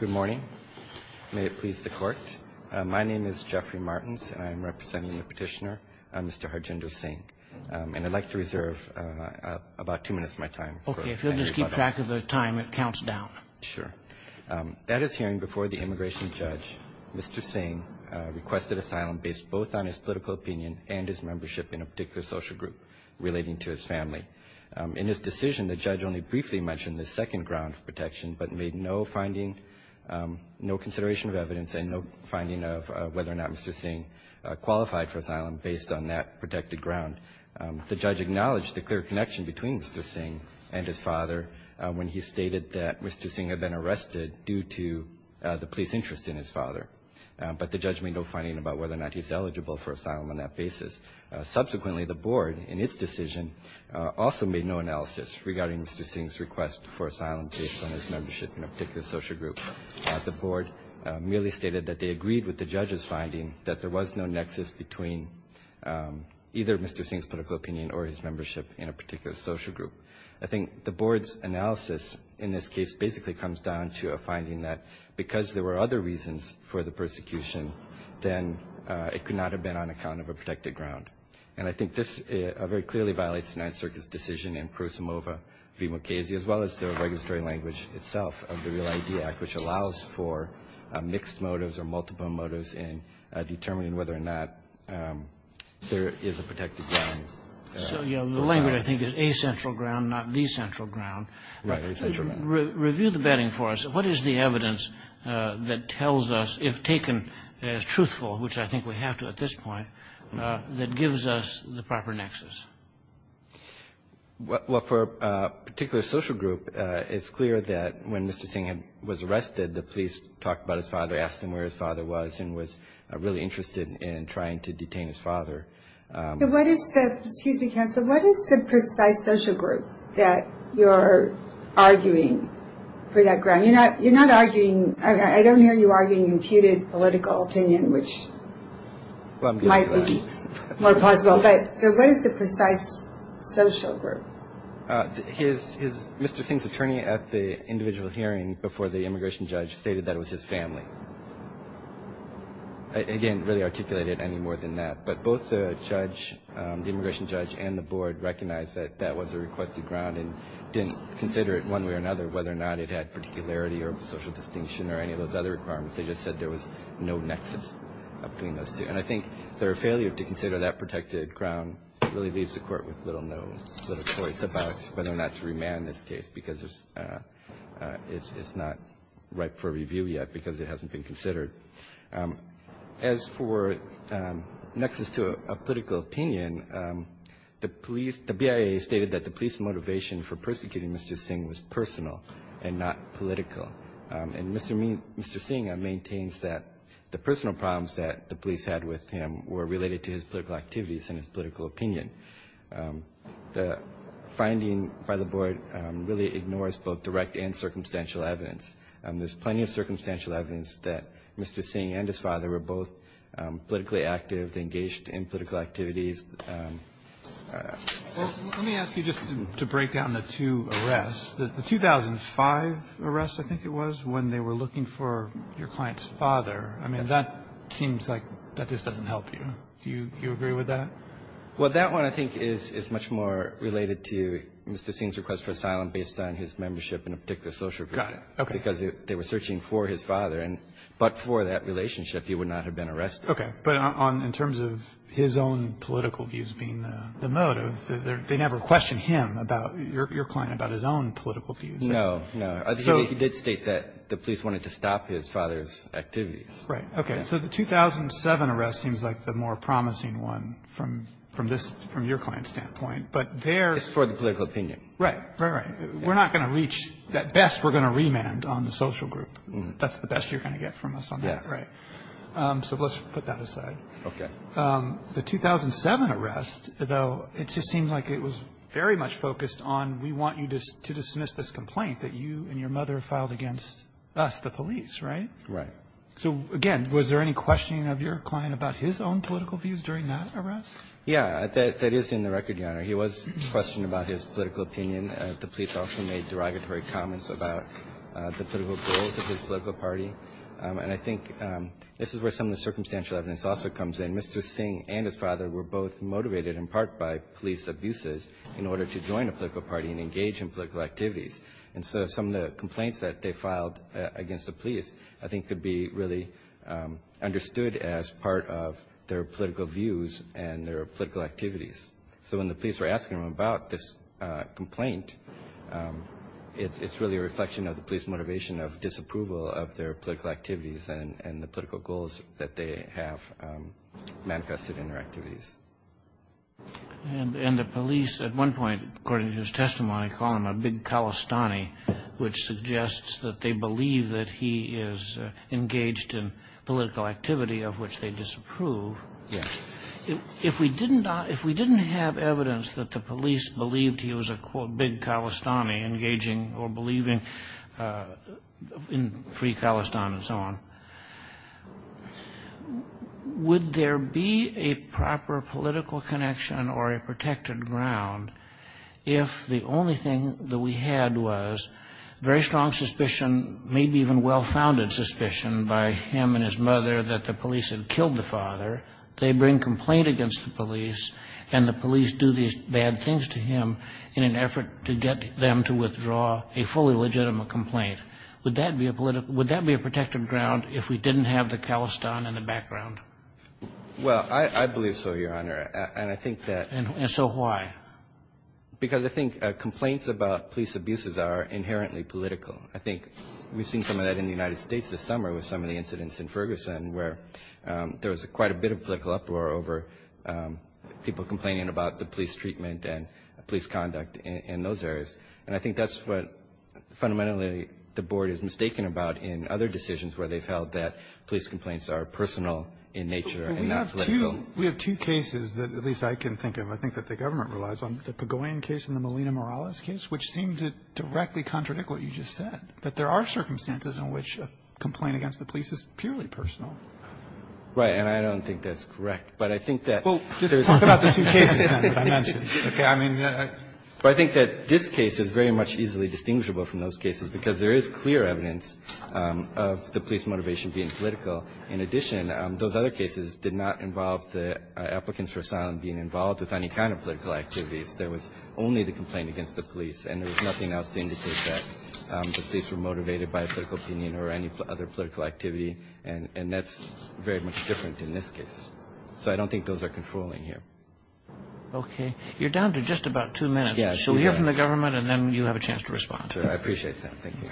Good morning. May it please the Court. My name is Jeffrey Martins, and I'm representing the petitioner, Mr. Harjinder Singh. And I'd like to reserve about two minutes of my time. OK. If you'll just keep track of the time, it counts down. Sure. At his hearing before the immigration judge, Mr. Singh requested asylum based both on his political opinion and his membership in a particular social group relating to his family. In his decision, the judge only briefly mentioned the second ground of protection, but made no finding, no consideration of evidence, and no finding of whether or not Mr. Singh qualified for asylum based on that protected ground. The judge acknowledged the clear connection between Mr. Singh and his father when he stated that Mr. Singh had been arrested due to the police interest in his father. But the judge made no finding about whether or not he's eligible for asylum on that basis. Subsequently, the Board, in its decision, also made no analysis regarding Mr. Singh's request for asylum based on his membership in a particular social group. The Board merely stated that they agreed with the judge's finding that there was no nexus between either Mr. Singh's political opinion or his membership in a particular social group. I think the Board's analysis in this case basically comes down to a finding that because there were other reasons for the persecution, then it could not have been on account of a protected ground. And I think this very clearly violates the Ninth Circuit's decision in Prusamova v. Mukasey, as well as the regulatory language itself of the REAL ID Act, which allows for mixed motives or multiple motives in determining whether or not there is a protected ground. So, you know, the language, I think, is a central ground, not the central ground. Right, a central ground. Review the bedding for us. What is the evidence that tells us, if taken as truthful, which I think we have to at this point, that gives us the proper nexus? Well, for a particular social group, it's clear that when Mr. Singh was arrested, the police talked about his father, asked him where his father was, and was really interested in trying to detain his father. Excuse me, counsel. What is the precise social group that you're arguing for that ground? You're not arguing – I don't hear you arguing imputed political opinion, which might be more plausible. But what is the precise social group? Mr. Singh's attorney at the individual hearing before the immigration judge stated that it was his family. I, again, really articulate it any more than that. But both the judge, the immigration judge and the board recognized that that was a requested ground and didn't consider it one way or another whether or not it had particularity or social distinction or any of those other requirements. They just said there was no nexus between those two. And I think their failure to consider that protected ground really leaves the court with little choice about whether or not to remand this case because it's not ripe for review yet because it hasn't been considered. As for nexus to a political opinion, the BIA stated that the police motivation for persecuting Mr. Singh was personal and not political. And Mr. Singh maintains that the personal problems that the police had with him were related to his political activities and his political opinion. The finding by the board really ignores both direct and circumstantial evidence. There's plenty of circumstantial evidence that Mr. Singh and his father were both politically active, engaged in political activities. Let me ask you just to break down the two arrests. The 2005 arrest, I think it was, when they were looking for your client's father, I mean, that seems like that just doesn't help you. Do you agree with that? Well, that one I think is much more related to Mr. Singh's request for asylum based on his membership in a particular social group. Got it. Okay. Because they were searching for his father. And but for that relationship, he would not have been arrested. Okay. But in terms of his own political views being the motive, they never questioned him about your client about his own political views. No. No. I think he did state that the police wanted to stop his father's activities. Right. So the 2007 arrest seems like the more promising one from this, from your client's standpoint. But there's. It's for the political opinion. Right. Right, right. We're not going to reach. At best, we're going to remand on the social group. That's the best you're going to get from us on that. Yes. Right. So let's put that aside. Okay. The 2007 arrest, though, it just seems like it was very much focused on we want you to dismiss this complaint that you and your mother filed against us, the police. Right. So, again, was there any questioning of your client about his own political views during that arrest? Yeah. That is in the record, Your Honor. He was questioned about his political opinion. The police also made derogatory comments about the political goals of his political party. And I think this is where some of the circumstantial evidence also comes in. Mr. Singh and his father were both motivated in part by police abuses in order to join a political party and engage in political activities. And so some of the complaints that they filed against the police, I think, could be really understood as part of their political views and their political activities. So when the police were asking them about this complaint, it's really a reflection of the police motivation of disapproval of their political activities and the political goals that they have manifested in their activities. And the police at one point, according to his testimony, call him a big Khalistani, which suggests that they believe that he is engaged in political activity of which they disapprove. Yes. If we didn't have evidence that the police believed he was a, quote, big Khalistani engaging or believing in free Khalistan and so on, would there be a proper political connection or a protected ground if the only thing that we had was very strong suspicion, maybe even well-founded suspicion, by him and his mother that the police had killed the father? They bring complaint against the police, and the police do these bad things to him in an effort to get them to withdraw a fully legitimate complaint. Would that be a political – would that be a protected ground if we didn't have the Khalistan in the background? Well, I believe so, Your Honor. And I think that – And so why? Because I think complaints about police abuses are inherently political. I think we've seen some of that in the United States this summer with some of the incidents in Ferguson where there was quite a bit of political uproar over people complaining about the police treatment and police conduct in those areas. And I think that's what fundamentally the Board is mistaken about in other decisions where they've held that police complaints are personal in nature and not political. But we have two – we have two cases that at least I can think of, I think that the government relies on, the Pagoyan case and the Molina-Morales case, which seem to directly contradict what you just said, that there are circumstances in which a complaint against the police is purely personal. Right. And I don't think that's correct. But I think that there's – Well, just talk about the two cases then that I mentioned. Okay. I mean, I think that this case is very much easily distinguishable from those cases because there is clear evidence of the police motivation being political. In addition, those other cases did not involve the applicants for asylum being involved with any kind of political activities. There was only the complaint against the police, and there was nothing else to indicate that the police were motivated by a political opinion or any other political activity. And that's very much different in this case. So I don't think those are controlling here. Okay. You're down to just about two minutes. Yes. So we'll hear from the government, and then you have a chance to respond. Sure. I appreciate that. Thank you.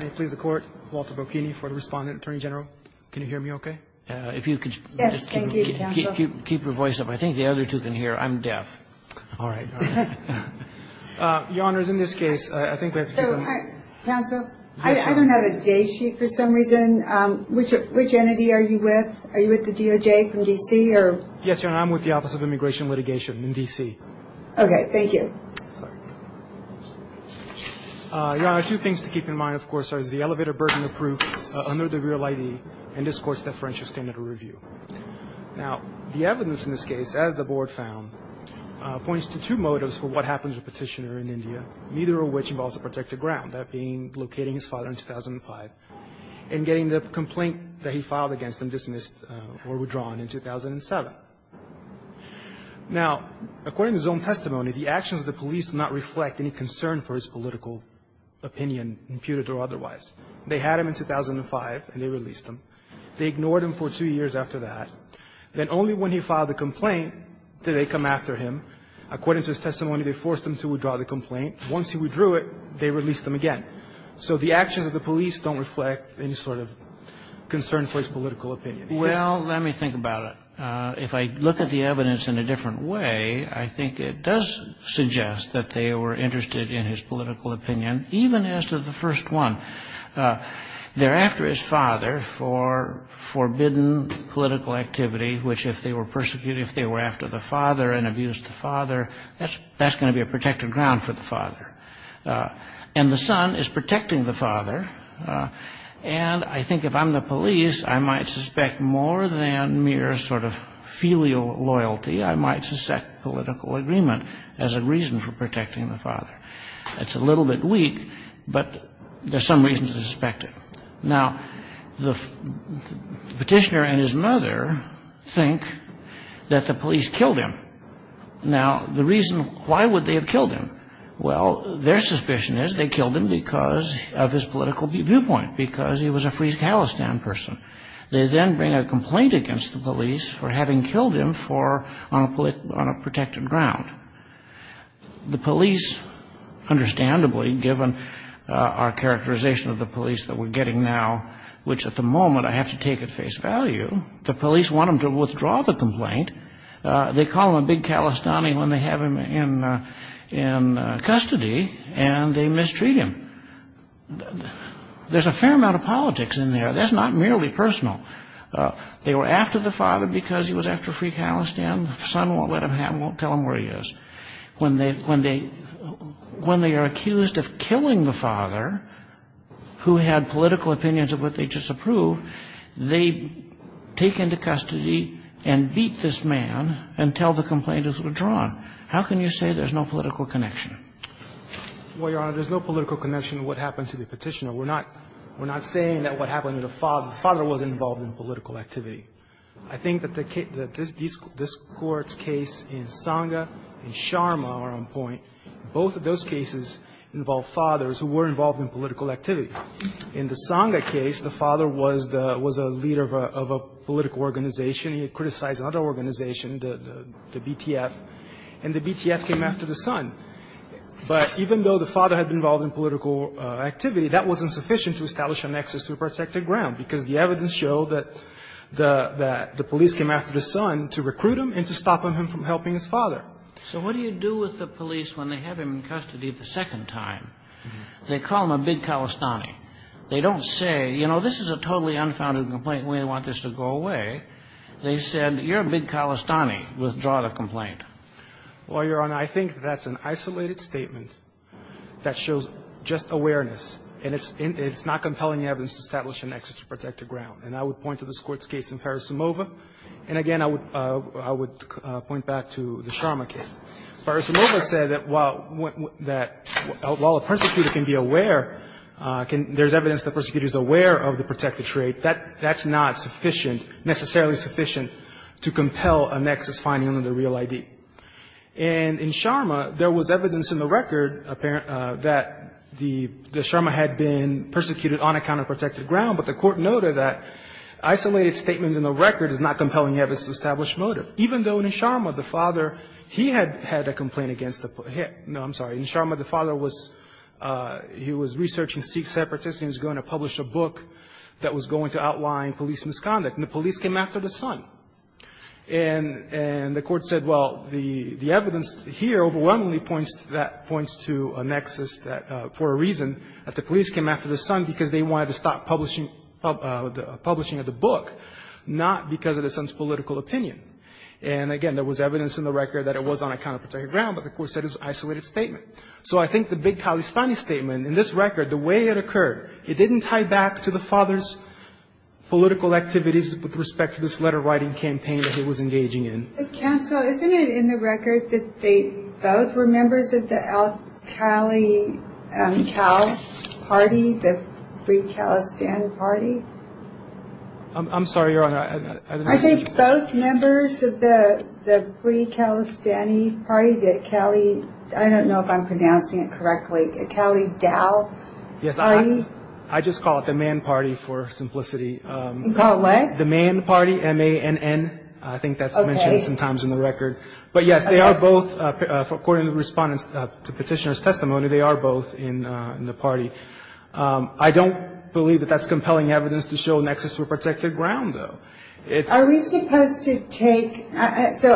May it please the Court, Walter Bocchini for the respondent. Attorney General, can you hear me okay? Yes. Thank you, counsel. Keep your voice up. I think the other two can hear. I'm deaf. All right. Your Honors, in this case, I think we have to give them up. Counsel, I don't have a day sheet for some reason. Which entity are you with? Are you with the DOJ from D.C.? Yes, Your Honor, I'm with the Office of Immigration and Litigation in D.C. Okay. Thank you. Your Honor, two things to keep in mind, of course, are the elevator burden of proof under the real ID and discourse deferential standard review. Now, the evidence in this case, as the Board found, points to two motives for what happened to the petitioner in India, neither of which involves a protected ground, that being locating his father in 2005 and getting the complaint that he filed against him dismissed or withdrawn in 2007. Now, according to his own testimony, the actions of the police do not reflect any concern for his political opinion, imputed or otherwise. They had him in 2005, and they released him. They ignored him for two years after that. Then only when he filed the complaint did they come after him. According to his testimony, they forced him to withdraw the complaint. Once he withdrew it, they released him again. So the actions of the police don't reflect any sort of concern for his political opinion. Well, let me think about it. If I look at the evidence in a different way, I think it does suggest that they were interested in his political opinion, even as to the first one. They're after his father for forbidden political activity, which if they were persecuted, if they were after the father and abused the father, that's going to be a protected ground for the father. And the son is protecting the father. And I think if I'm the police, I might suspect more than mere sort of filial loyalty. I might suspect political agreement as a reason for protecting the father. That's a little bit weak, but there's some reason to suspect it. Now, the petitioner and his mother think that the police killed him. Now, the reason, why would they have killed him? Well, their suspicion is they killed him because of his political viewpoint, because he was a Free Palestine person. They then bring a complaint against the police for having killed him on a protected ground. The police, understandably, given our characterization of the police that we're getting now, which at the moment I have to take at face value, the police want them to withdraw the complaint. They call him a big Kalistani when they have him in custody, and they mistreat him. There's a fair amount of politics in there. That's not merely personal. They were after the father because he was after Free Palestine. The son won't let him have him, won't tell him where he is. When they are accused of killing the father, who had political opinions of what they just approved, they take him to custody and beat this man and tell the complainant to withdraw him. How can you say there's no political connection? Well, Your Honor, there's no political connection to what happened to the petitioner. We're not saying that what happened to the father was involved in political activity. I think that this Court's case in Sanga and Sharma are on point. Both of those cases involve fathers who were involved in political activity. In the Sanga case, the father was a leader of a political organization. He had criticized another organization, the BTF, and the BTF came after the son. But even though the father had been involved in political activity, that wasn't sufficient to establish a nexus to protect the ground, because the evidence showed that the police came after the son to recruit him and to stop him from helping his father. So what do you do with the police when they have him in custody the second time? They call him a big Khalistani. They don't say, you know, this is a totally unfounded complaint and we don't want this to go away. They said, you're a big Khalistani. Withdraw the complaint. Well, Your Honor, I think that's an isolated statement that shows just awareness and it's not compelling evidence to establish a nexus to protect the ground. And I would point to this Court's case in Parasumova. And again, I would point back to the Sharma case. Parasumova said that while a persecutor can be aware, there's evidence the persecutor is aware of the protected trait, that's not sufficient, necessarily sufficient to compel a nexus finding on the real ID. And in Sharma, there was evidence in the record that the Sharma had been persecuted on a counterprotected ground. But the Court noted that isolated statements in the record is not compelling evidence to establish motive. Even though in Sharma, the father, he had had a complaint against him. No, I'm sorry. In Sharma, the father was, he was researching Sikh separatists and he was going to publish a book that was going to outline police misconduct. And the police came after the son. And the Court said, well, the evidence here overwhelmingly points to that, points to a nexus that, for a reason, that the police came after the son because they wanted to stop publishing of the book, not because of the son's political opinion. And again, there was evidence in the record that it was on a counterprotected ground, but the Court said it was an isolated statement. So I think the big Khalistani statement in this record, the way it occurred, it didn't tie back to the father's political activities with respect to this letter writing campaign that he was engaging in. Counsel, isn't it in the record that they both were members of the al-Khali, al-Khal party, the Free Khalistan Party? I'm sorry, Your Honor. Are they both members of the Free Khalistani Party, the Khali, I don't know if I'm pronouncing it correctly, the Khali Dao party? Yes, I just call it the Mann Party for simplicity. You call it what? The Mann Party, M-A-N-N. I think that's mentioned sometimes in the record. But, yes, they are both, according to respondents to petitioner's testimony, they are both in the party. I don't believe that that's compelling evidence to show a nexus for protected ground, though. Are we supposed to take, so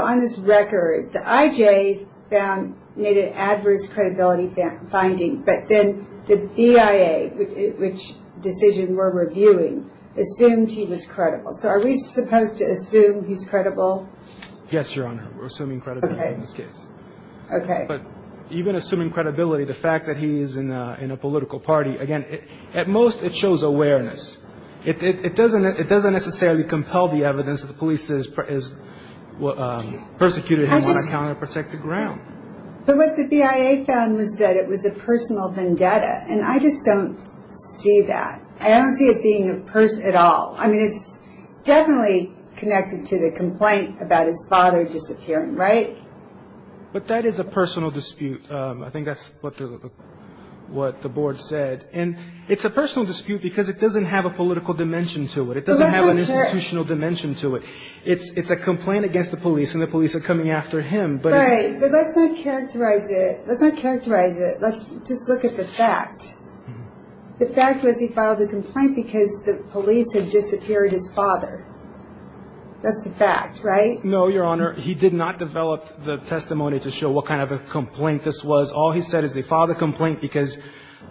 on this record, the IJ found, made an adverse credibility finding, but then the BIA, which decision we're reviewing, assumed he was credible. So are we supposed to assume he's credible? Yes, Your Honor. We're assuming credibility in this case. Okay. But even assuming credibility, the fact that he's in a political party, again, at most it shows awareness. It doesn't necessarily compel the evidence that the police has persecuted him on a counterprotected ground. But what the BIA found was that it was a personal vendetta. And I just don't see that. I don't see it being a person at all. I mean, it's definitely connected to the complaint about his father disappearing, right? But that is a personal dispute. I think that's what the board said. And it's a personal dispute because it doesn't have a political dimension to it. It doesn't have an institutional dimension to it. It's a complaint against the police, and the police are coming after him. Right. But let's not characterize it. Let's not characterize it. Let's just look at the fact. The fact was he filed a complaint because the police had disappeared his father. That's the fact, right? No, Your Honor. He did not develop the testimony to show what kind of a complaint this was. All he said is they filed a complaint because,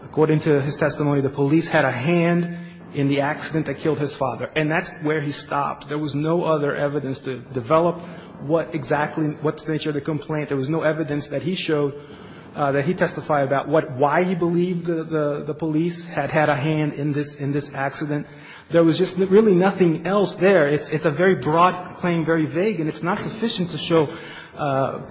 according to his testimony, the police had a hand in the accident that killed his father. And that's where he stopped. There was no other evidence to develop what exactly, what's the nature of the complaint. There was no evidence that he showed, that he testified about what, why he believed the police had had a hand in this accident. There was just really nothing else there. It's a very broad claim, very vague, and it's not sufficient to show that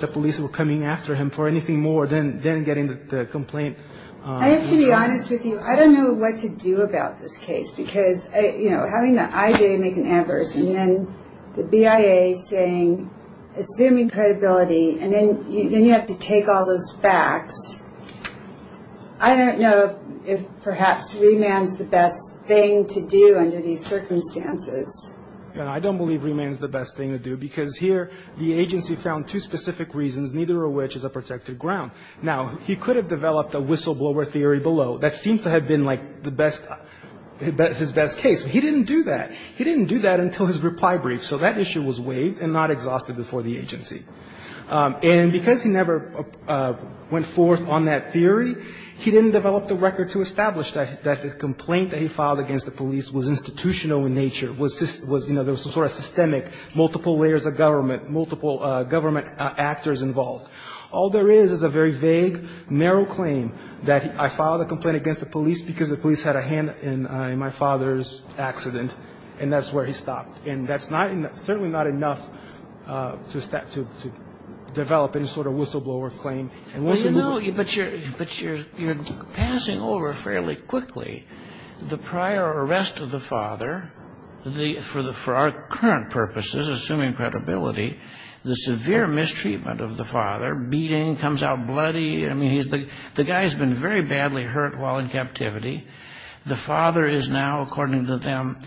the police were coming after him for anything more than getting the complaint. I have to be honest with you. I don't know what to do about this case because, you know, having the IJ make an adverse and then the BIA saying, assuming credibility, and then you have to take all those facts, I don't know if perhaps remand is the best thing to do under these circumstances. I don't believe remand is the best thing to do because here the agency found two specific reasons, neither of which is a protected ground. Now, he could have developed a whistleblower theory below that seems to have been like the best, his best case. He didn't do that. He didn't do that until his reply brief. So that issue was waived and not exhausted before the agency. And because he never went forth on that theory, he didn't develop the record to establish that the complaint that he filed against the police was institutional in nature, was, you know, there was some sort of systemic, multiple layers of government, multiple government actors involved. All there is is a very vague, narrow claim that I filed a complaint against the police because the police had a hand in my father's accident, and that's where he stopped. And that's not and certainly not enough to develop any sort of whistleblower claim. And once you move on to the next slide. Kagan. But you're passing over fairly quickly the prior arrest of the father for our current purposes, assuming credibility, the severe mistreatment of the father, beating, comes out bloody. I mean, the guy's been very badly hurt while in captivity. The father is now, according to them,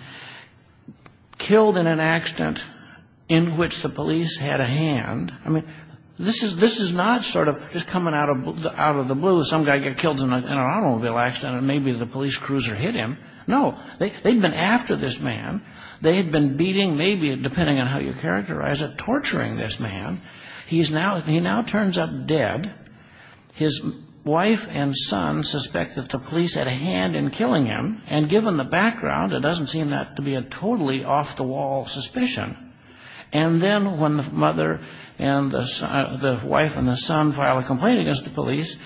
killed in an accident in which the police had a hand. I mean, this is not sort of just coming out of the blue. Some guy gets killed in an automobile accident and maybe the police cruiser hit him. No. They've been after this man. They had been beating, maybe depending on how you characterize it, torturing this man. He now turns up dead. His wife and son suspect that the police had a hand in killing him. And given the background, it doesn't seem that to be a totally off-the-wall suspicion. And then when the mother and the wife and the son file a complaint against the police,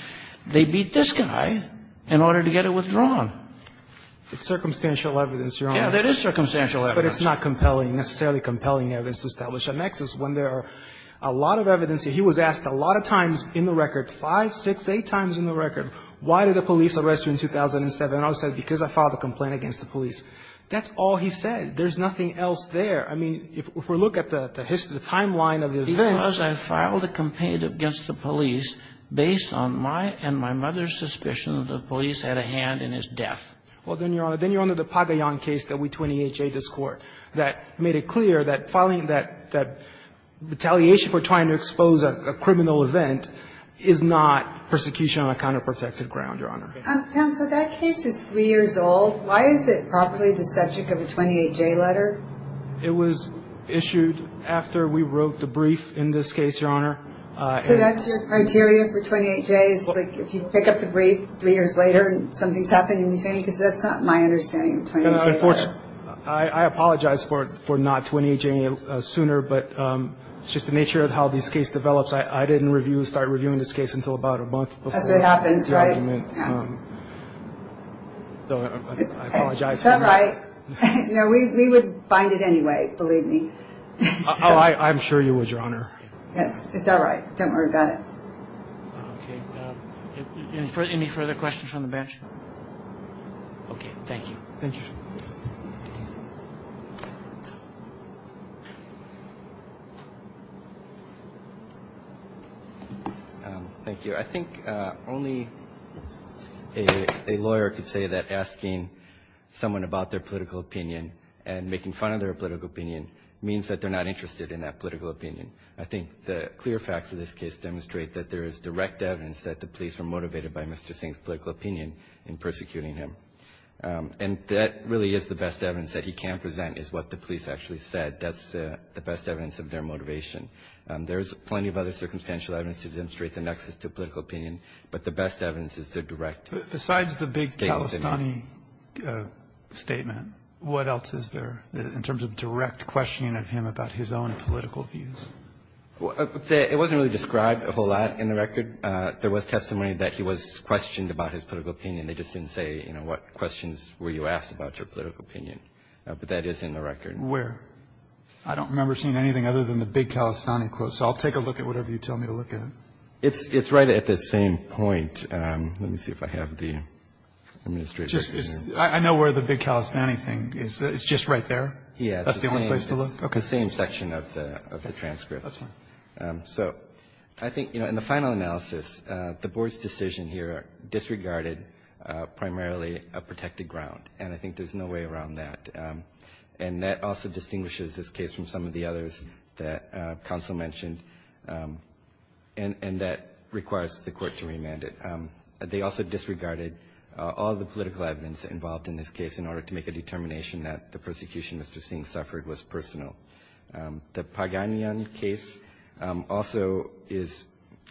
they beat this guy in order to get it withdrawn. It's circumstantial evidence, Your Honor. That is circumstantial evidence. But it's not compelling, necessarily compelling evidence to establish a nexus when there are a lot of evidence. He was asked a lot of times in the record, five, six, eight times in the record, why did the police arrest you in 2007? And all he said, because I filed a complaint against the police. That's all he said. There's nothing else there. I mean, if we look at the timeline of the events. Because I filed a complaint against the police based on my and my mother's suspicion that the police had a hand in his death. Well, then, Your Honor, then you're under the Pagayan case that we 28J this Court that made it clear that filing that retaliation for trying to expose a criminal event is not persecution on a counterprotective ground, Your Honor. Counsel, that case is three years old. Why is it properly the subject of a 28J letter? It was issued after we wrote the brief in this case, Your Honor. So that's your criteria for 28J is, like, if you pick up the brief three years later and something's happened in between? Because that's not my understanding of 28J. I apologize for not 28J-ing it sooner, but it's just the nature of how this case develops. I didn't start reviewing this case until about a month before the argument. That's what happens, right? I apologize. It's all right. No, we would bind it anyway, believe me. Oh, I'm sure you would, Your Honor. Yes, it's all right. Don't worry about it. Okay. Any further questions from the bench? Okay. Thank you. Thank you. Thank you. I think only a lawyer could say that asking someone about their political opinion and making fun of their political opinion means that they're not interested in that political opinion. I think the clear facts of this case demonstrate that there is direct evidence that the police were motivated by Mr. Singh's political opinion in persecuting him. And that really is the best evidence that he can present is what the police actually said. That's the best evidence of their motivation. There's plenty of other circumstantial evidence to demonstrate the nexus to political opinion, but the best evidence is the direct statement. But besides the big calisthony statement, what else is there in terms of direct questioning of him about his own political views? It wasn't really described a whole lot in the record. There was testimony that he was questioned about his political opinion. They just didn't say, you know, what questions were you asked about your political opinion. But that is in the record. Where? I don't remember seeing anything other than the big calisthony quote. So I'll take a look at whatever you tell me to look at. It's right at the same point. Let me see if I have the administrative record here. I know where the big calisthony thing is. It's just right there? That's the only place to look? Yes. It's the same section of the transcript. That's fine. So I think, you know, in the final analysis, the Board's decision here disregarded primarily a protected ground, and I think there's no way around that. And that also distinguishes this case from some of the others that counsel mentioned and that requires the Court to remand it. They also disregarded all the political evidence involved in this case in order to make a determination that the persecution Mr. Singh suffered was personal. The Paganian case also is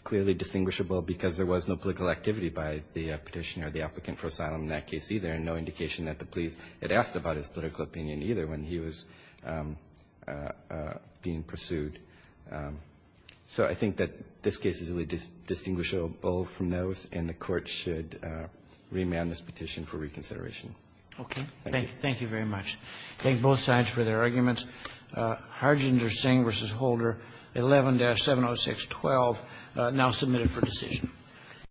clearly distinguishable because there was no political activity by the petitioner or the applicant for asylum in that case either, and no indication that the police had asked about his political opinion either when he was being pursued. So I think that this case is really distinguishable from those, and the Court should remand this petition for reconsideration. Okay. Thank you very much. I thank both sides for their arguments. Harjinder Singh v. Holder, 11-70612, now submitted for decision.